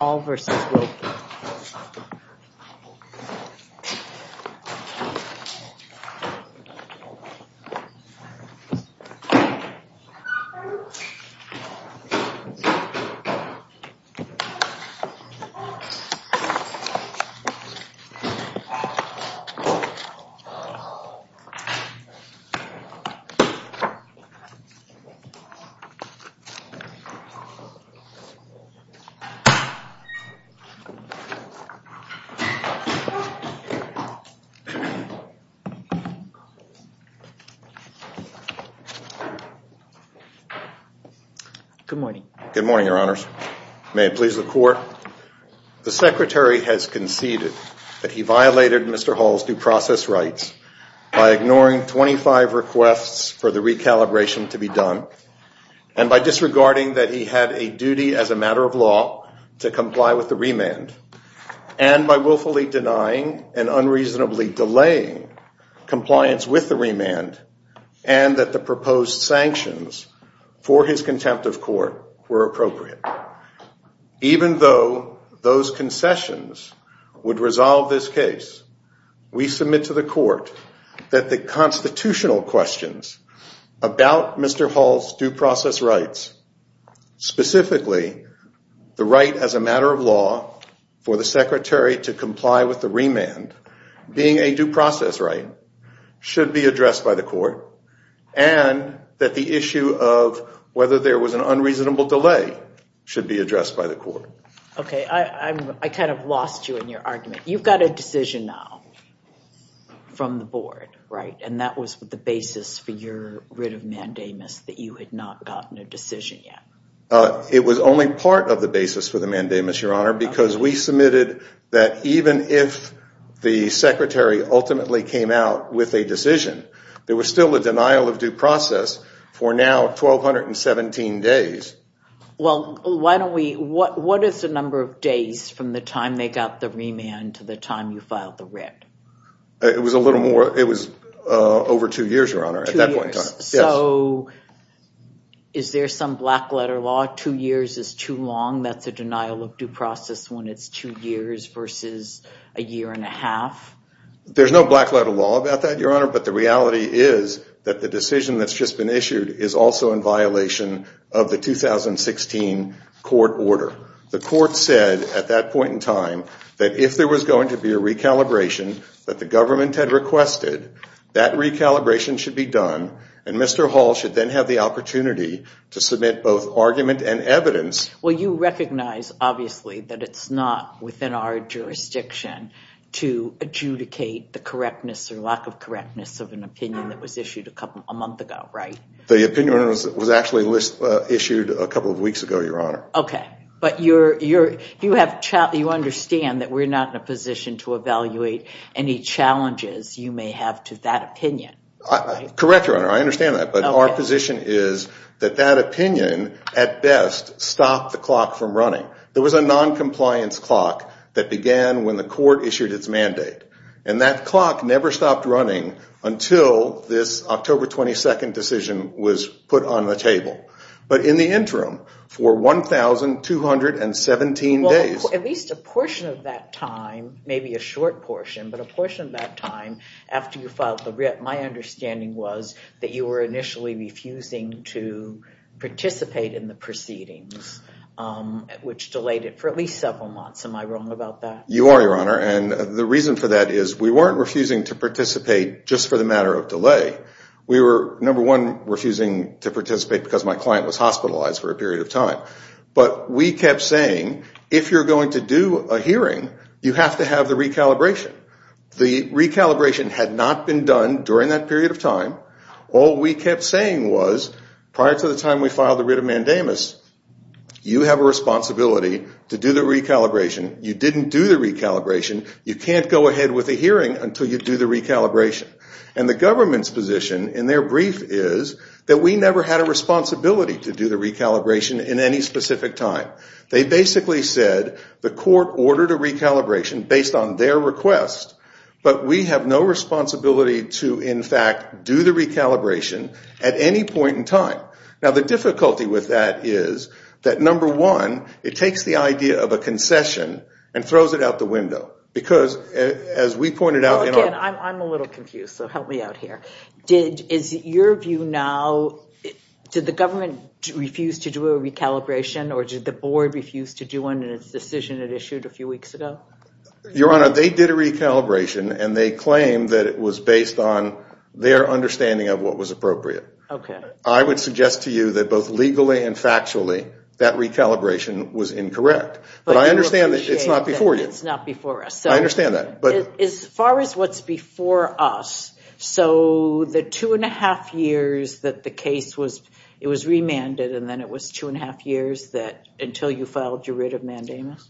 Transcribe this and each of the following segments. All v. Wilkie Good morning, your honors. May it please the court, the secretary has conceded that he violated Mr. Hall's due process rights by ignoring 25 requests for the recalibration to be done, and by disregarding that he had a duty as a matter of law to comply with the remand, and by willfully denying and unreasonably delaying compliance with the remand, and that the proposed sanctions for his contempt of court were appropriate. Even though those concessions would resolve this case, we submit to the court that the constitutional questions about Mr. Hall's due process rights, specifically the right as a matter of law for the secretary to comply with the remand, being a due process right, should be addressed by the court, and that the issue of whether there was an unreasonable delay should be addressed by the court. Okay, I kind of lost you in your argument. You've got a decision now from the board, and that was the basis for your writ of mandamus that you had not gotten a decision yet. It was only part of the basis for the mandamus, your honor, because we submitted that even if the secretary ultimately came out with a decision, there was still a denial of due process for now 1,217 days. Well, what is the number of days from the time they got the remand to the time you over two years, your honor? Is there some black letter law, two years is too long, that's a denial of due process when it's two years versus a year and a half? There's no black letter law about that, your honor, but the reality is that the decision that's just been issued is also in violation of the 2016 court order. The court said at that recalibration should be done and Mr. Hall should then have the opportunity to submit both argument and evidence. Well, you recognize obviously that it's not within our jurisdiction to adjudicate the correctness or lack of correctness of an opinion that was issued a month ago, right? The opinion was actually issued a couple of weeks ago, your honor. Okay, but you understand that we're not in a position to evaluate any challenges you may have to that opinion. Correct, your honor, I understand that, but our position is that that opinion at best stopped the clock from running. There was a non-compliance clock that began when the court issued its mandate and that clock never stopped running until this October 22nd decision was put on the table, but in the interim for 1,217 days. At least a portion of that time, maybe a short My understanding was that you were initially refusing to participate in the proceedings, which delayed it for at least several months. Am I wrong about that? You are, your honor, and the reason for that is we weren't refusing to participate just for the matter of delay. We were number one refusing to participate because my client was hospitalized for a period of time, but we kept saying if you're going to do a hearing, you have to have the recalibration. The hearing had been done during that period of time. All we kept saying was prior to the time we filed the writ of mandamus, you have a responsibility to do the recalibration. You didn't do the recalibration. You can't go ahead with the hearing until you do the recalibration, and the government's position in their brief is that we never had a responsibility to do the recalibration in any specific time. They basically said the court ordered a recalibration based on their request, but we have no responsibility to, in fact, do the recalibration at any point in time. Now, the difficulty with that is that number one, it takes the idea of a concession and throws it out the window, because as we pointed out... I'm a little confused, so help me out here. Did, is your view now, did the government refuse to do a recalibration, or did the board refuse to do one in its decision it issued a few weeks ago? Your Honor, they did a recalibration, and they claimed that it was based on their understanding of what was appropriate. Okay. I would suggest to you that both legally and factually, that recalibration was incorrect, but I understand that it's not before you. It's not before us. I understand that, but... As far as what's before us, so the two and a half years that the case was, it was remanded, and then it was two and a half years that, until you filed your writ of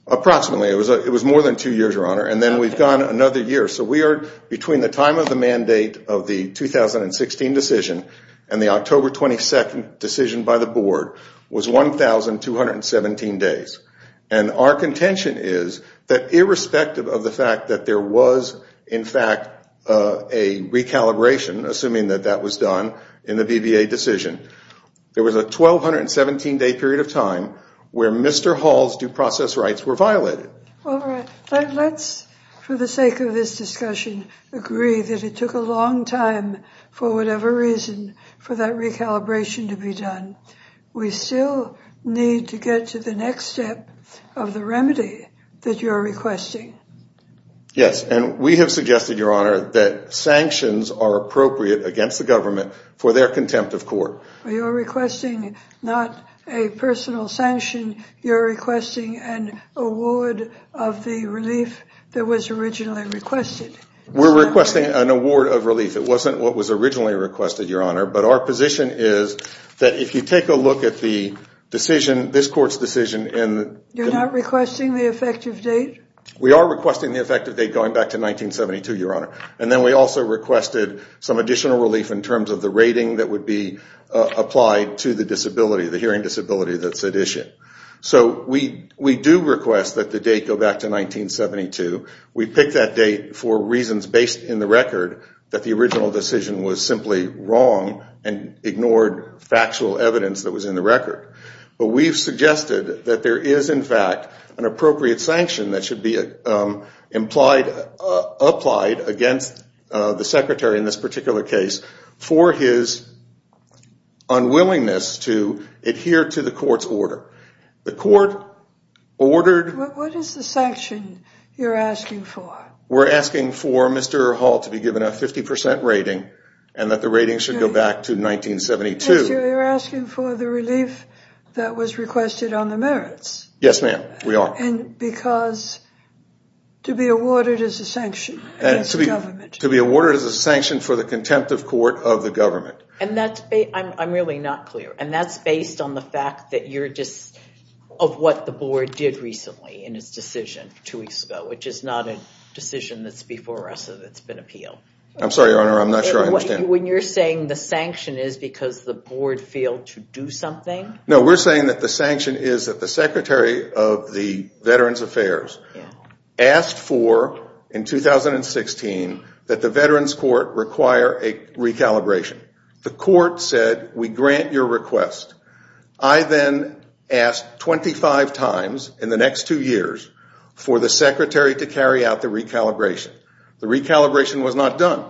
Approximately. It was more than two years, Your Honor, and then we've gone another year, so we are, between the time of the mandate of the 2016 decision and the October 22nd decision by the board, was 1,217 days, and our contention is that irrespective of the fact that there was, in fact, a recalibration, assuming that that was done in the BBA decision, there was a 1,217 day period of time where Mr. Hall's due process rights were violated. All right. Let's, for the sake of this discussion, agree that it took a long time, for whatever reason, for that recalibration to be done. We still need to get to the next step of the remedy that you're requesting. Yes, and we have suggested, Your Honor, that sanctions are appropriate against the government for their contempt of court. You're requesting not a personal sanction. You're requesting an award of the relief that was originally requested. We're requesting an award of relief. It wasn't what was originally requested, Your Honor, but our position is that if you take a look at the decision, this court's decision, and You're not requesting the effective date? We are requesting the effective date going back to 1972, Your Honor, and then we also requested some additional relief in terms of the rating that would be applied to the disability, the hearing disability that's at issue. So we do request that the date go back to 1972. We picked that date for reasons based in the record that the original decision was simply wrong and ignored factual evidence that was in the record. But we've suggested that there is, in fact, an appropriate sanction that should be applied against the secretary in this particular case for his unwillingness to adhere to the court's order. The court ordered... What is the sanction you're asking for? We're asking for Mr. Hall to be given a 50 percent rating and that the rating should go back to 1972. You're asking for the relief that was requested on the merits? Yes, ma'am, we are. And because to be awarded as a sanction against the government. To be awarded as a sanction for the contempt of court of the government. And that's... I'm really not clear. And that's based on the fact that you're just... of what the board did recently in its decision two weeks ago, which is not a decision that's before us that's been appealed. I'm sorry, Your Honor, I'm not sure I understand. When you're saying the sanction is because the board failed to do something? No, we're saying that the sanction is that the Secretary of the Veterans Affairs asked for, in 2016, that the Veterans Court require a recalibration. The court said, we grant your request. I then asked 25 times in the next two years for the secretary to carry out the recalibration. The recalibration was not done.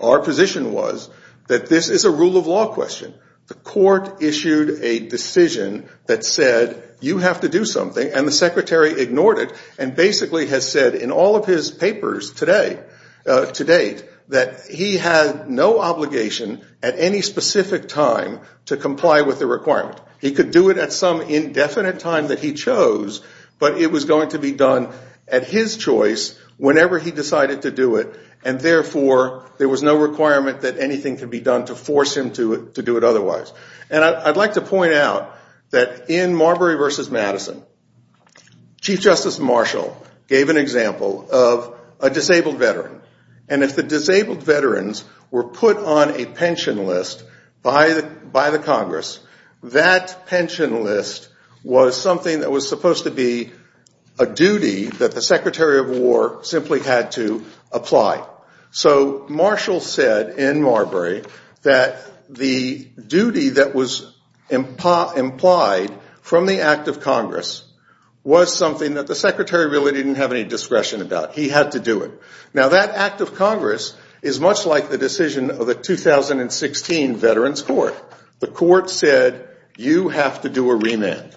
Our position was that this is a rule of law question. The court issued a decision that said, you have to do something. And the secretary ignored it and basically has said in all of his papers today, to date, that he had no obligation at any specific time to comply with the requirement. He could do it at some indefinite time that he chose, but it was going to be done at his choice whenever he decided to do it. And therefore, there was no requirement that anything could be done to force him to do it otherwise. And I'd like to point out that in Marbury v. Madison, Chief Justice Marshall gave an example of a disabled veteran. And if the disabled veterans were put on a pension list by the Congress, that pension list was something that was supposed to be a duty that the Secretary of War simply had to apply. So Marshall said in Marbury that the duty that was implied from the Act of Congress was something that the secretary really didn't have any discretion about. He had to do it. Now, that Act of Congress is much like the decision of the 2016 Veterans Court. The court said, you have to do a remand.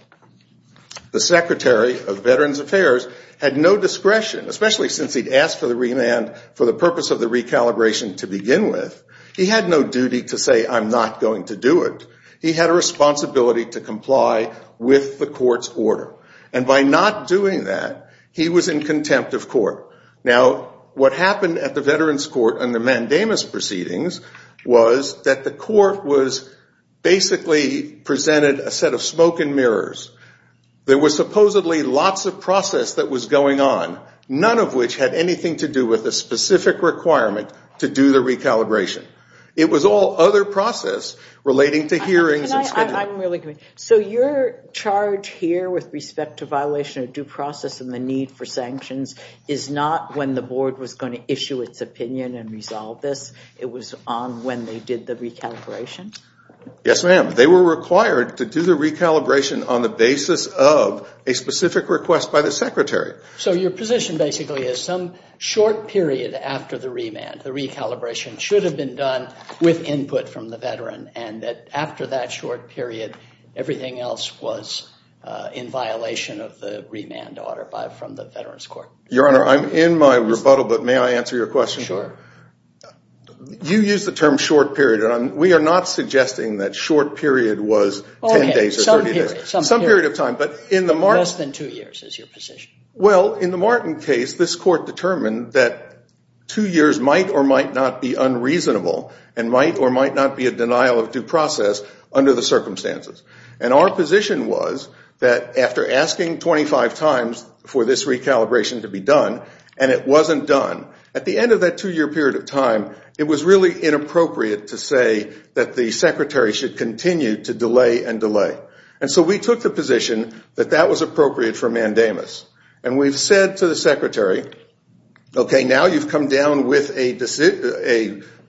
The Secretary of Veterans Affairs had no discretion, especially since he'd asked for the remand for the purpose of the recalibration to begin with. He had no duty to say, I'm not going to do it. He had a responsibility to comply with the court's order. And by not doing that, he was in contempt of court. Now, what happened at the Veterans Court under Mandamus proceedings was that the court was basically presented a set of smoke and mirrors. There was supposedly lots of process that was going on, none of which had anything to do with a specific requirement to do the recalibration. It was all other process relating to hearings. So your charge here with respect to violation of due process and the need for sanctions is not when the board was going to issue its opinion and they were required to do the recalibration on the basis of a specific request by the Secretary. So your position basically is some short period after the remand, the recalibration should have been done with input from the veteran and that after that short period, everything else was in violation of the remand order from the Veterans Court. Your Honor, I'm in my rebuttal, but may I answer your question? Sure. You used the term short period and we are not suggesting that short period was 10 days or 30 days. Some period of time, but in the Martin case, this court determined that two years might or might not be unreasonable and might or might not be a denial of due process under the circumstances. And our position was that after asking 25 times for this recalibration to be done and it wasn't done, at the end of that two-year period of time, it was really inappropriate to say that the Secretary should continue to delay and delay. And so we took the position that that was appropriate for mandamus. And we've said to the Secretary, okay, now you've come down with a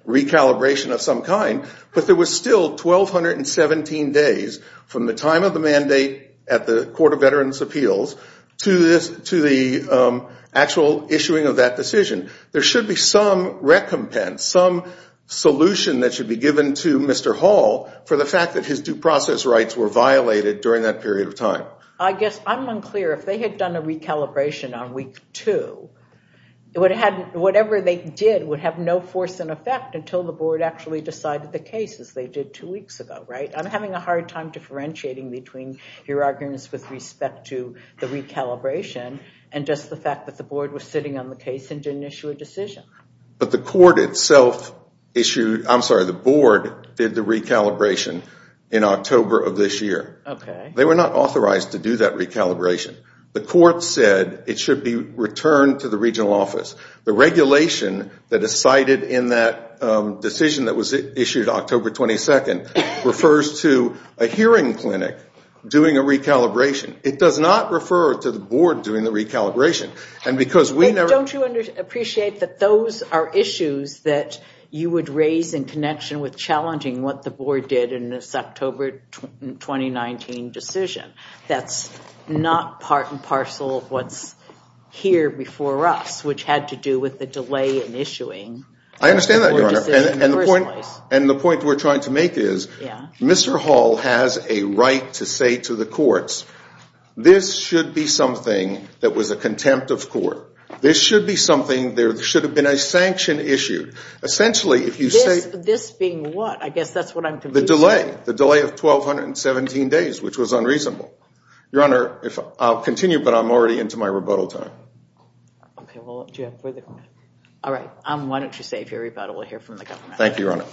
recalibration of some kind, but there was still 1,217 days from the time of the mandate at the Court of Veterans Appeals to the actual issuing of that decision. There should be some recompense, some solution that should be given to Mr. Hall for the fact that his due process rights were violated during that period of time. I guess I'm unclear. If they had done a recalibration on week two, whatever they did would have no force in effect until the Board actually decided the case as they did two weeks ago, right? I'm having a hard time differentiating between your arguments with respect to the recalibration and just the fact that the Board was sitting on the case and didn't issue a decision. But the Court itself issued, I'm sorry, the Board did the recalibration in October of this year. Okay. They were not authorized to do that recalibration. The Court said it should be returned to the regional office. The regulation that is cited in that decision that was issued October 22nd refers to a hearing clinic doing a recalibration. It does not refer to the Board doing the recalibration. And because we never... Don't you appreciate that those are issues that you would raise in connection with challenging what the Board did in this October 2019 decision? That's not part and parcel of what's here before us, which had to do with the delay in issuing. I understand that, Your Honor. And the point we're trying to make is... Mr. Hall has a right to say to the courts, this should be something that was a contempt of court. This should be something... There should have been a sanction issued. Essentially, if you say... This being what? I guess that's what I'm... The delay. The delay of 1,217 days, which was unreasonable. Your Honor, I'll continue, but I'm already into my rebuttal time. Okay. Well, do you have further... All right. Why don't you say your rebuttal? We'll hear from the government. Thank you, Your Honor.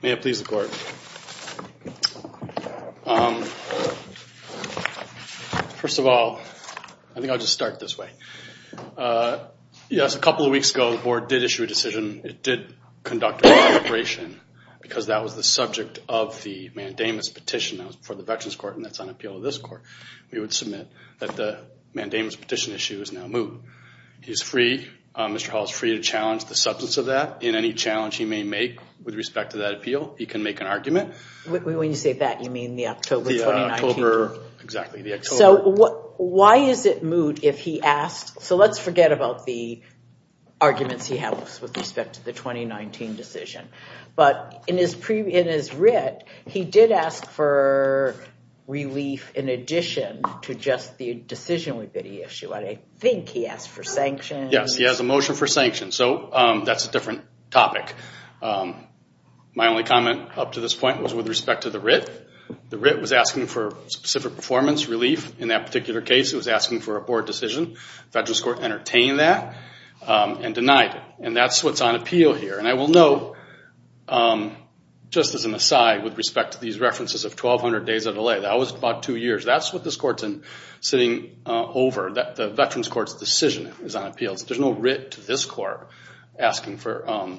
May it please the Court. First of all, I think I'll just start this way. Yes, a couple of weeks ago, the Board did issue a decision. It did conduct a re-deliberation because that was the subject of the mandamus petition for the Veterans Court, and that's on appeal to this Court. We would submit that the mandamus petition issue is now moot. He's free. Mr. Hall is free to challenge the substance of that in any challenge he may make with respect to that appeal. He can make an argument. When you say that, you mean the October 2019? Exactly, the October... So why is it moot if he asked... So let's forget about the arguments he has with respect to the for relief in addition to just the decision we did issue. I think he asked for sanctions. Yes, he has a motion for sanctions. So that's a different topic. My only comment up to this point was with respect to the writ. The writ was asking for specific performance relief. In that particular case, it was asking for a Board decision. Veterans Court entertained that and denied it. And that's what's on appeal here. And I will note, just as an aside, with respect to these references of 1,200 days of delay, that was about two years. That's what this Court's sitting over. The Veterans Court's decision is on appeal. There's no writ to this Court asking for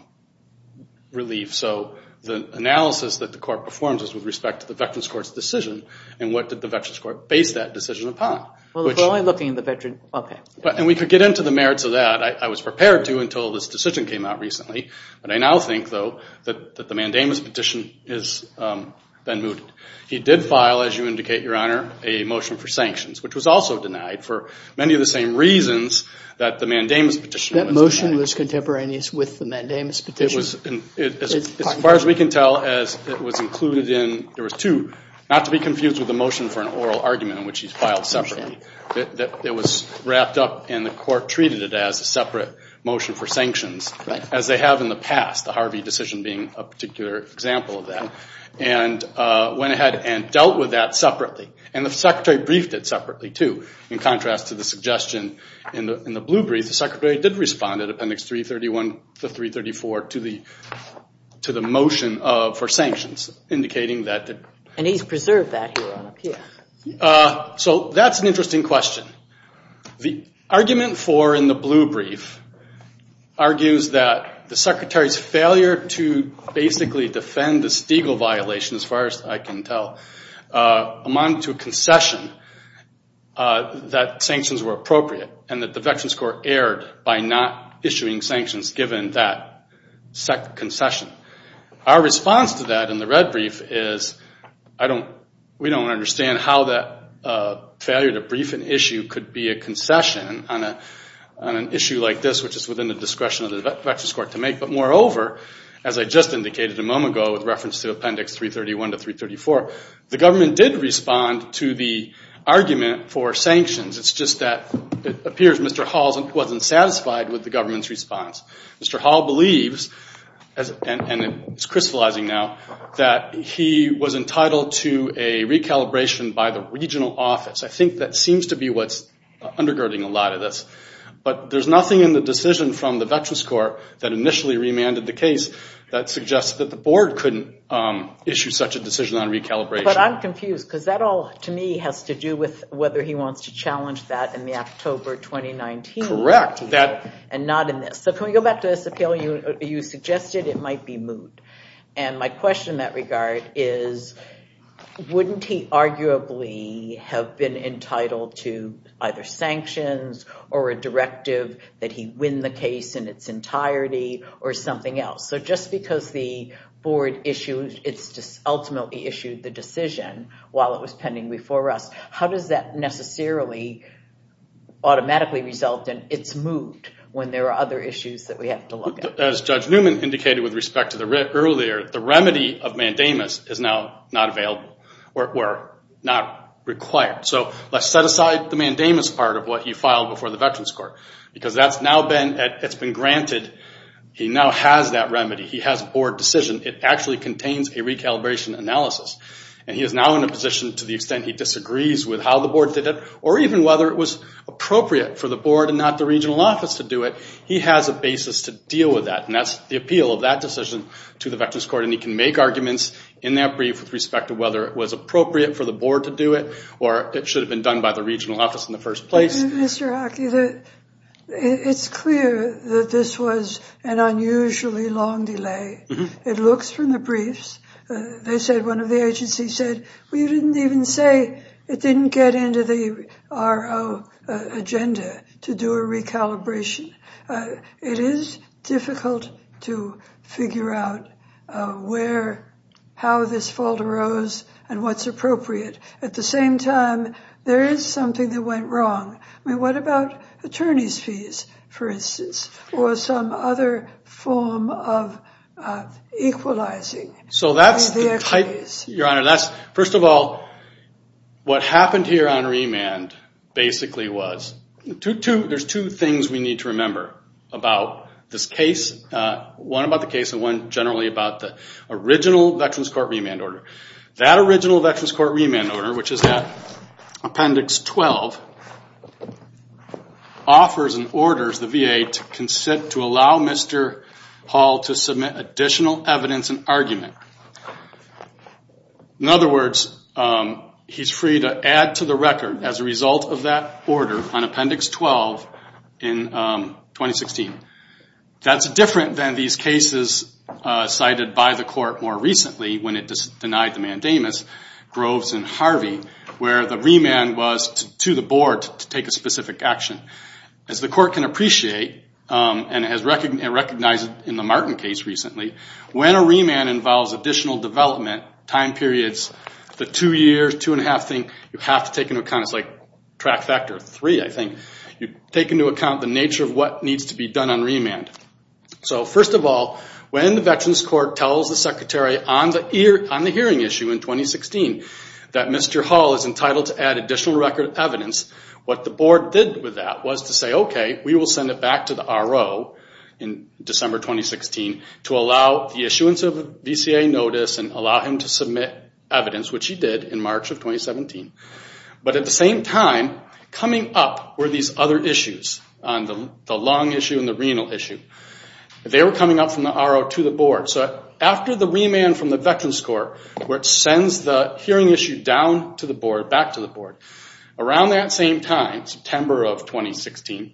relief. So the analysis that the Court performs is with respect to the Veterans Court's decision, and what did the Veterans Court base that decision upon? Well, if we're only looking at the Veterans... Okay. And we could get into the merits of that. I was prepared to until this decision came out recently. But I now think, though, that the mandamus petition has been moved. He did file, as you indicate, Your Honor, a motion for sanctions, which was also denied for many of the same reasons that the mandamus petition was denied. That motion was contemporaneous with the mandamus petition? As far as we can tell, as it was included in... There was two, not to be confused with the motion for an oral argument in which he's filed separately. It was wrapped up, and the Court treated it as a separate motion for sanctions, as they have in the past, the Harvey decision being a particular example of that, and went ahead and dealt with that separately. And the Secretary briefed it separately, too. In contrast to the suggestion in the blue brief, the Secretary did respond at Appendix 331 to 334 to the motion for sanctions, indicating that... And he's preserved that here on appeal. So that's an interesting question. The argument for, in the blue brief, argues that the Secretary's failure to basically defend the Stiegel violation, as far as I can tell, amounted to a concession that sanctions were appropriate, and that the Veterans Court erred by not issuing sanctions given that concession. Our response to that in the red brief is, I don't... We don't understand how that failure to brief an issue could be a concession on an issue like this, which is within the discretion of the Veterans Court to make. But moreover, as I just indicated a moment ago with reference to Appendix 331 to 334, the government did respond to the argument for sanctions. It's just that it appears Mr. Hall wasn't satisfied with the government's response. Mr. Hall believes, and it's crystallizing now, that he was entitled to a recalibration by the regional office. I think that seems to be what's undergirding a lot of this. But there's nothing in the decision from the Veterans Court that initially remanded the case that suggests that the board couldn't issue such a decision on recalibration. But I'm confused, because that all, to me, has to do with whether he wants to challenge that in the October 2019 ruling. Correct. And not in this. So can we go back to this? You suggested it might be moot. And my question in that regard is, wouldn't he arguably have been entitled to either sanctions or a directive that he win the case in its entirety or something else? So just because the board ultimately issued the decision while it was pending before us, how does that necessarily automatically result in it's moot when there are other issues that we have to look at? As Judge Newman indicated with respect to earlier, the remedy of mandamus is now not available or not required. So let's set aside the mandamus part of what he filed before the Veterans Court. Because that's now been granted. He now has that remedy. He has a board decision. It actually contains a recalibration analysis. And he is now in a position, to the extent he disagrees with how the board did it, or even whether it was appropriate for the board and not the regional office to do it, he has a basis to deal with that. And that's the appeal of that decision to the Veterans Court. And he can make arguments in that brief with respect to whether it was appropriate for the board to do it or it should have been done by the regional office in the first place. Mr. Hockey, it's clear that this was an unusually long delay. It looks from the briefs, they said, one of the agencies said, we didn't even say it didn't get into the RO agenda to do a recalibration. It is difficult to figure out how this fault arose and what's appropriate. At the same time, there is something that went wrong. I mean, what about attorney's fees, for instance, or some other form of equalizing? So that's the type, Your Honor, that's, first of all, what happened here on remand basically was, there's two things we need to remember about this case. One about the case and one generally about the original Veterans Court remand order. That original Veterans Court remand order, which is that Appendix 12, offers and orders the VA to consent, to allow Mr. Hall to submit additional evidence in argument. In other words, he's free to add to the record as a result of that order on Appendix 12 in 2016. That's different than these cases cited by the court more recently when it denied the mandamus, Groves and Harvey, where the remand was to the board to take a specific action. As the court can appreciate and has recognized in the Martin case recently, when a remand involves additional development, time periods, the two years, two and a half thing, you have to take into account. It's like track factor three, I think. You take into account the nature of what needs to be done on remand. So first of all, when the Veterans Court tells the Secretary on the hearing issue in 2016 that Mr. Hall is entitled to add additional record evidence, what the board did with that was to say, okay, we will send it back to the RO in December 2016 to allow the issuance of a VCA notice and allow him to submit evidence, which he did in March of 2017. But at the same time, coming up were these other issues, the lung issue and the renal issue. They were coming up from the RO to the board. So after the remand from the Veterans Court, which sends the hearing issue down to the board, back to the board, around that same time, September of 2016,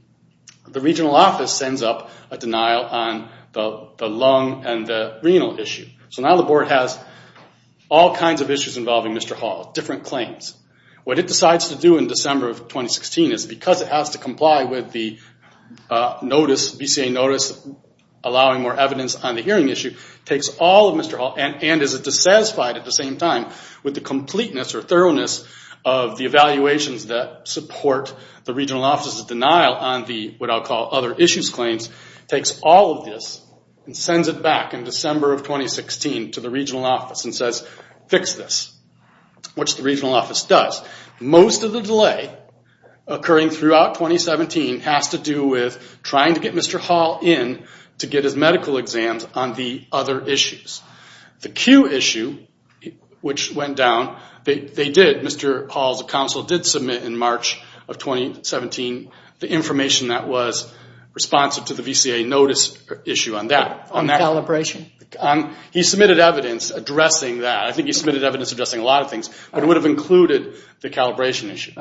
the regional office sends up a denial on the lung and the renal issue. So now the board has all kinds of issues involving Mr. Hall, different claims. What it decides to do in December of 2016 is because it has to comply with the VCA notice allowing more evidence on the hearing issue, takes all of Mr. Hall and is dissatisfied at the same time with the completeness or thoroughness of the evaluations that support the regional office's denial on the, what I'll call, other issues claims, takes all of this and sends it back in December of 2016 to the regional office and says, fix this, which the regional office does. Most of the delay occurring throughout 2017 has to do with trying to get Mr. Hall in to get his medical exams on the other issues. The Q issue, which went down, they did, Mr. Hall's counsel did submit in March of 2017 the information that was responsive to the VCA notice issue on that. On calibration? He submitted evidence addressing that. I think he submitted evidence addressing a lot of things, but it would have included the calibration issue.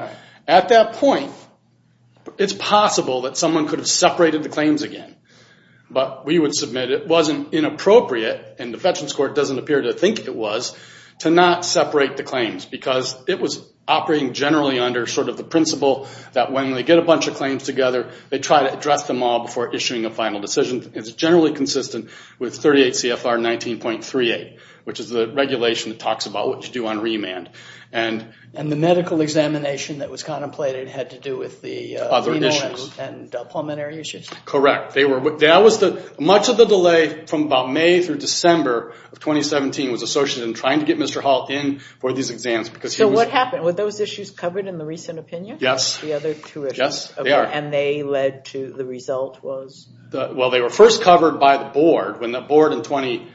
At that point, it's possible that someone could have separated the claims again. But we would submit it wasn't inappropriate, and the Fetchings Court doesn't appear to think it was, to not separate the claims because it was operating generally under sort of the principle that when they get a bunch of claims together, they try to address them all before issuing a final decision. It's generally consistent with 38 CFR 19.38, which is the regulation that talks about what to do on remand. And the medical examination that was contemplated had to do with the remand and pulmonary issues? Correct. Much of the delay from about May through December of 2017 was associated with trying to get Mr. Hall in for these exams. So what happened? Were those issues covered in the recent opinion? Yes. The other two issues? Yes, they are. And they led to the result was? Well, they were first covered by the board when the board in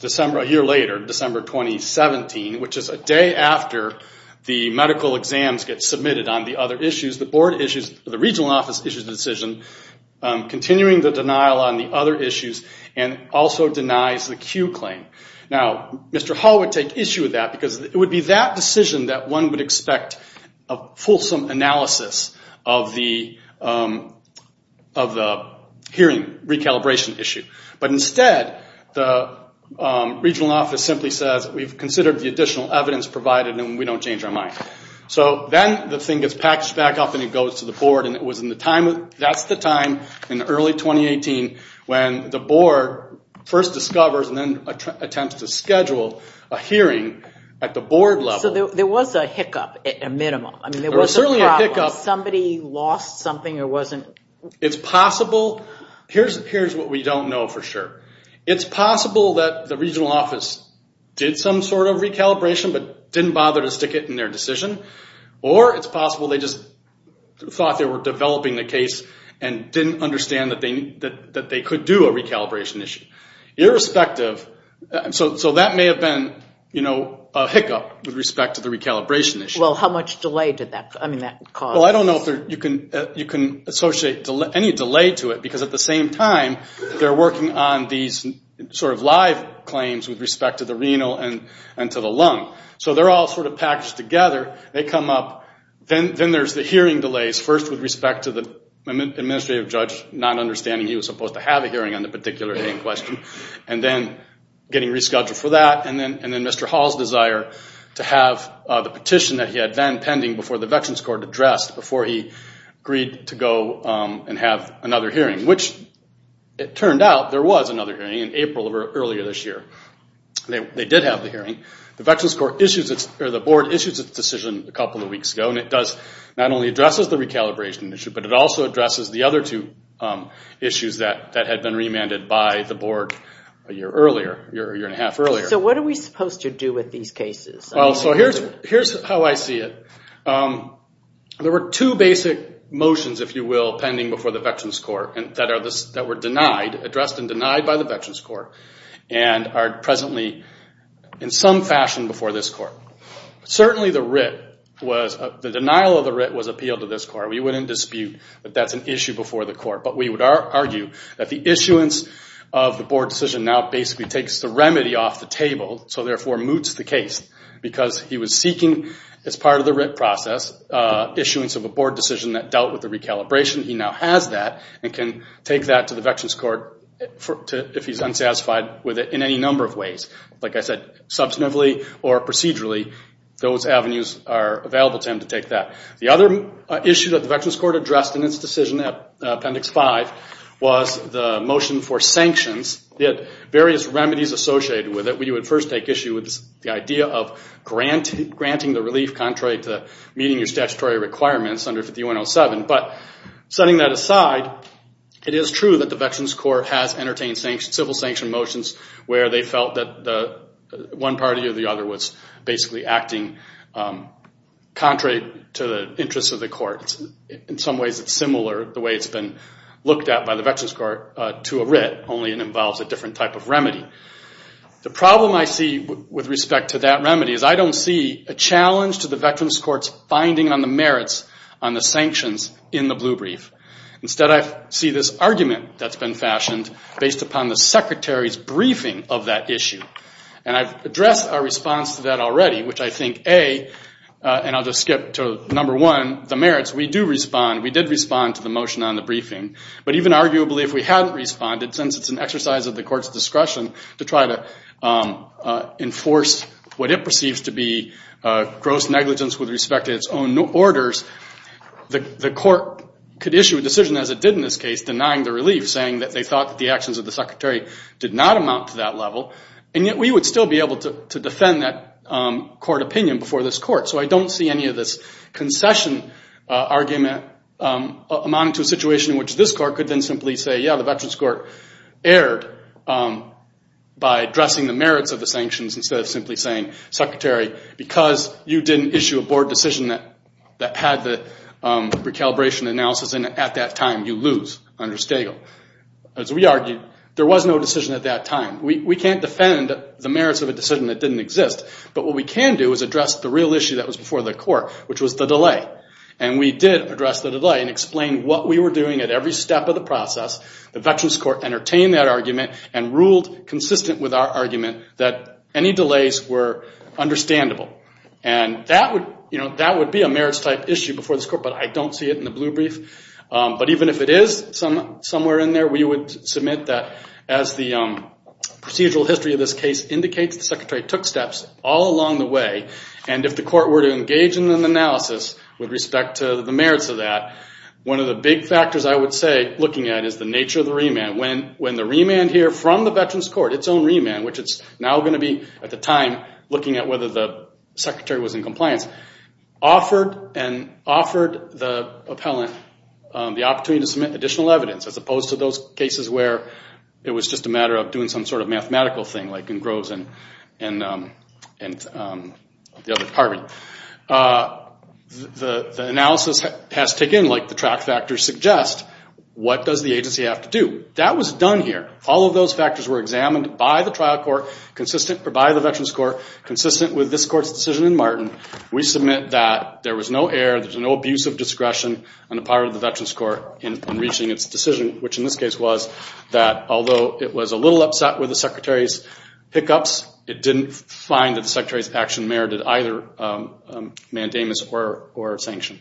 December, a year later, December 2017, which is a day after the medical exams get submitted on the other issues, the board issues, the regional office issues a decision continuing the denial on the other issues and also denies the Q claim. Now, Mr. Hall would take issue with that because it would be that decision that one would expect a fulsome analysis of the hearing recalibration issue. But instead, the regional office simply says, we've considered the additional evidence provided and we don't change our mind. So then the thing gets packaged back up and it goes to the board and that's the time in early 2018 when the board first discovers and then attempts to schedule a hearing at the board level. So there was a hiccup, a minimum? There was certainly a hiccup. Somebody lost something or wasn't? It's possible, here's what we don't know for sure. It's possible that the regional office did some sort of recalibration but didn't bother to stick it in their decision. Or it's possible they just thought they were developing the case and didn't understand that they could do a recalibration issue. Irrespective, so that may have been a hiccup with respect to the recalibration issue. Well, how much delay did that cause? Well, I don't know if you can associate any delay to it because at the same time, they're working on these sort of live claims with respect to the renal and to the lung. So they're all sort of packaged together. They come up, then there's the hearing delays, first with respect to the administrative judge not understanding he was supposed to have a hearing on the particular hearing question. And then getting rescheduled for that and then Mr. Hall's desire to have the petition that he had then pending before the hearing was passed before he agreed to go and have another hearing, which it turned out there was another hearing in April of earlier this year. They did have the hearing. The Veterans Court issues its, or the board issues its decision a couple of weeks ago and it does, not only addresses the recalibration issue, but it also addresses the other two issues that had been remanded by the board a year earlier, a year and a half earlier. So what are we supposed to do with these cases? Well, so here's how I see it. There were two basic motions, if you will, pending before the Veterans Court that were denied, addressed and denied by the Veterans Court and are presently in some fashion before this court. Certainly the writ was, the denial of the writ was appealed to this court. We wouldn't dispute that that's an issue before the court, but we would argue that the issuance of the board decision now basically takes the remedy off the table, so therefore moots the case because he was seeking, as part of the writ process, issuance of a board decision that dealt with the recalibration. He now has that and can take that to the Veterans Court if he's unsatisfied with it in any number of ways. Like I said, substantively or procedurally, those avenues are available to him to take that. The other issue that the Veterans Court addressed in its decision at Appendix 5 was the motion for sanctions. It had various remedies associated with it. We would first take issue with the idea of granting the relief contrary to meeting your statutory requirements under 50107, but setting that aside, it is true that the Veterans Court has entertained civil sanction motions where they felt that one party or the other was basically acting contrary to the interests of the court. In some ways it's similar, the way it's been looked at by the Veterans Court, to a writ, only it involves a different type of remedy. The problem I see with respect to that remedy is I don't see a challenge to the Veterans Court's finding on the merits on the sanctions in the blue brief. Instead, I see this argument that's been fashioned based upon the Secretary's briefing of that issue. And I've addressed our response to that already, which I think, A, and I'll just skip to number one, the merits, we do respond. We did respond to the motion on the briefing. But even arguably if we hadn't responded, since it's an exercise of the court's discretion to try to enforce what it perceives to be gross negligence with respect to its own orders, the court could issue a decision as it did in this case, denying the relief, saying that they thought that the actions of the Secretary did not amount to that level. And yet we would still be able to defend that court opinion before this court. So I don't see any of this concession argument amounting to a situation in which this court could then simply say, yeah, the Veterans Court erred by addressing the merits of the sanctions instead of simply saying, Secretary, because you didn't issue a board decision that had the recalibration analysis in it at that time, you lose under Stegall. As we argued, there was no decision at that time. We can't defend the merits of a decision that didn't exist. But what we can do is address the real issue that was before the court, which was the delay. And we did address the delay and explain what we were doing at every step of the process. The Veterans Court entertained that argument and ruled consistent with our argument that any delays were understandable. And that would be a merits-type issue before this court, but I don't see it in the blue brief. But even if it is somewhere in there, we would submit that as the procedural history of this case indicates, the Secretary took steps all along the way. And if the court were to engage in an analysis with respect to the merits of that, one of the big factors I would say looking at is the nature of the remand. When the remand here from the Veterans Court, its own remand, which it's now going to be at the time, looking at whether the Secretary was in compliance, offered the appellant the opportunity to submit additional evidence, as opposed to those cases where it was just a matter of doing some sort of mathematical thing like in Groves and the other department. The analysis has taken, like the track factors suggest, what does the agency have to do? That was done here. All of those factors were examined by the trial court, by the Veterans Court, consistent with this court's decision in Martin. We submit that there was no error, there was no abuse of discretion on the part of the Veterans Court in reaching its decision, which in this case was that although it was a little upset with the Secretary's pickups, it didn't find that the Secretary's action merited either mandamus or sanction.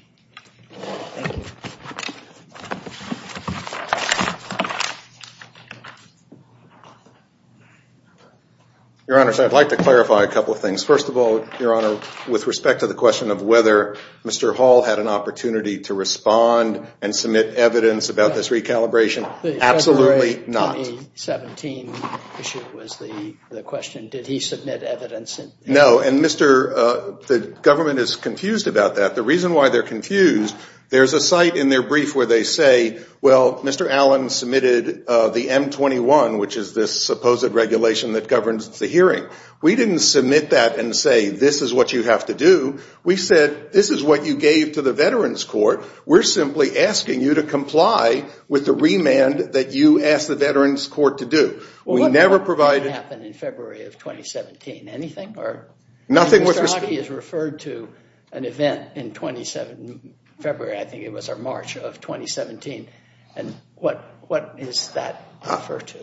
Your Honor, I'd like to clarify a couple of things. First of all, Your Honor, with respect to the question of whether Mr. Hall had an opportunity to respond and submit evidence about this recalibration, absolutely not. The February 2017 issue was the question, did he submit evidence? No, and the government is confused about that. The reason why they're confused, there's a site in their brief where they say, well, Mr. Allen submitted the M21, which is this supposed regulation that governs the hearing. We didn't submit that and say, this is what you have to do. We said, this is what you gave to the Veterans Court. We're simply asking you to comply with the remand that you asked the Veterans Court to do. Well, what happened in February of 2017? Anything or? Nothing. Mr. Hockey has referred to an event in February, I think it was, or March of 2017. And what does that refer to?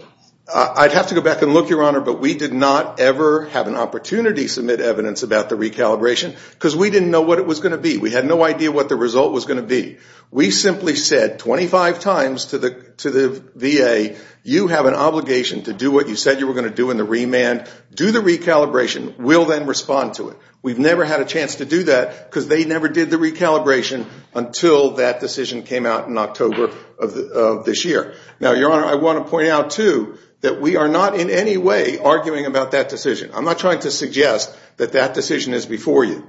I'd have to go back and look, Your Honor, but we did not ever have an opportunity to submit evidence about the recalibration because we didn't know what it was going to be. We had no idea what the result was going to be. We simply said 25 times to the VA, you have an obligation to do what you said you were going to do in the remand. Do the recalibration. We'll then respond to it. We've never had a chance to do that because they never did the recalibration until that decision came out in October of this year. Now, Your Honor, I want to point out, too, that we are not in any way arguing about that decision. I'm not trying to suggest that that decision is before you.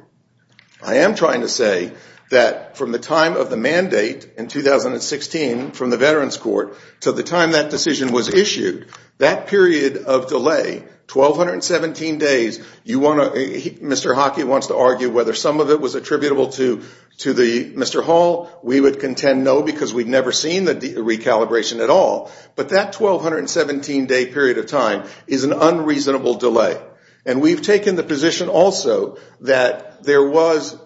I am trying to say that from the time of the mandate in 2016 from the Veterans Court to the time that decision was issued, that period of delay, 1217 days, you want to, Mr. Hockey wants to argue whether some of it was attributable to Mr. Hall. We would contend no because we've never seen the recalibration at all. But that 1217 day period of time is an unreasonable delay. And we've taken the position also that there was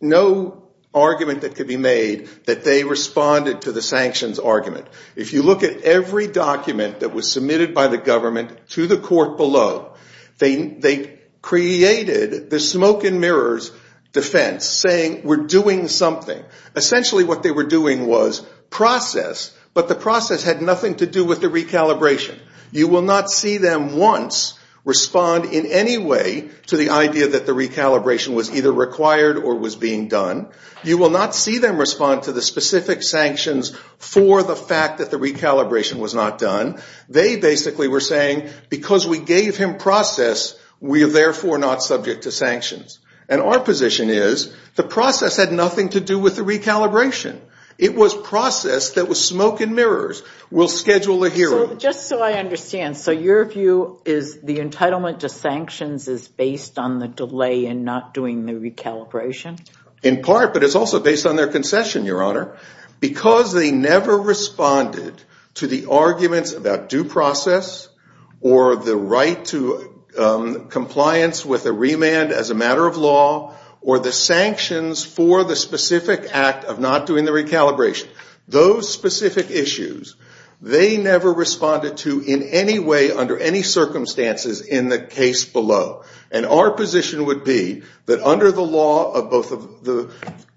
no argument that could be made that they responded to the sanctions argument. If you look at every document that was submitted by the government to the court below, they created the smoke and mirrors defense saying we're doing something. Essentially what they were doing was process, but the process had nothing to do with the recalibration. You will not see them once respond in any way to the idea that the recalibration was either required or was being done. You will not see them respond to the specific sanctions for the fact that the recalibration was not done. They basically were saying because we gave him process, we are therefore not subject to sanctions. And our position is the process had nothing to do with the recalibration. It was process that was smoke and mirrors. We'll schedule a hearing. Just so I understand, so your view is the entitlement to sanctions is based on the delay and not doing the recalibration? In part, but it's also based on their concession, Your Honor. Because they never responded to the arguments about due process or the right to compliance with a remand as a matter of law or the sanctions for the specific act of not doing the recalibration. Those specific issues, they never responded to in any way under any circumstances in the case below. And our position would be that under the law of both the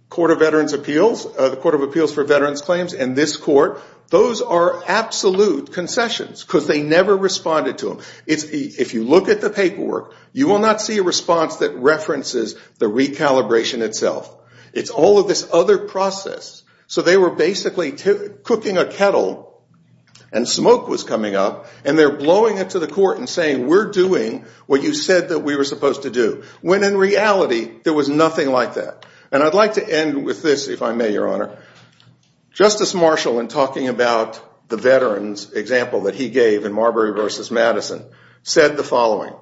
Court of Appeals for Veterans Claims and this court, those are absolute concessions because they never responded to them. If you look at the paperwork, you will not see a response that references the recalibration itself. It's all of this other process. So they were basically cooking a kettle and smoke was coming up and they're blowing it to the court and saying, we're doing what you said that we were supposed to do. When in reality, there was nothing like that. And I'd like to end with this, if I may, Your Honor. Justice Marshall, in talking about the veterans example that he gave in Marbury versus Madison, said the following.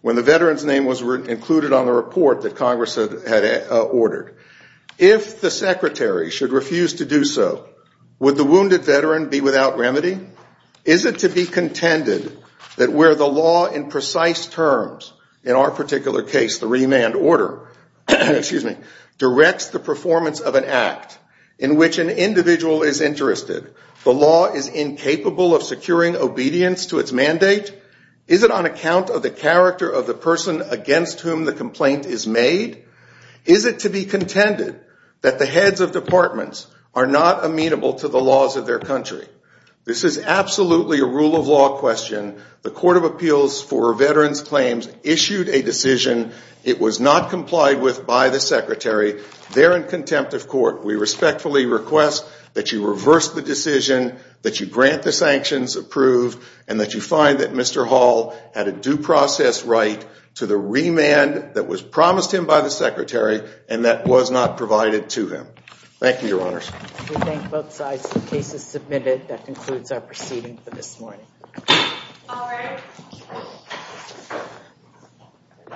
When the veteran's name was included on the report that Congress had ordered, if the secretary should refuse to do so, would the wounded veteran be without remedy? Is it to be contended that where the law in precise terms, in our particular case, the remand order, directs the performance of an act in which an individual is interested, the law is incapable of securing obedience to its mandate? Is it on account of the character of the person against whom the complaint is made? Is it to be contended that the heads of departments are not amenable to the laws of their country? This is absolutely a rule of law question. The Court of Appeals for Veterans Claims issued a decision. It was not complied with by the secretary. They're in contempt of court. We respectfully request that you reverse the decision, that you grant the sanctions approved, and that you find that Mr. Hall had a due process right to the remand that was promised to him by the secretary and that was not provided to him. Thank you, Your Honors. We thank both sides. The case is submitted. That concludes our proceeding for this morning.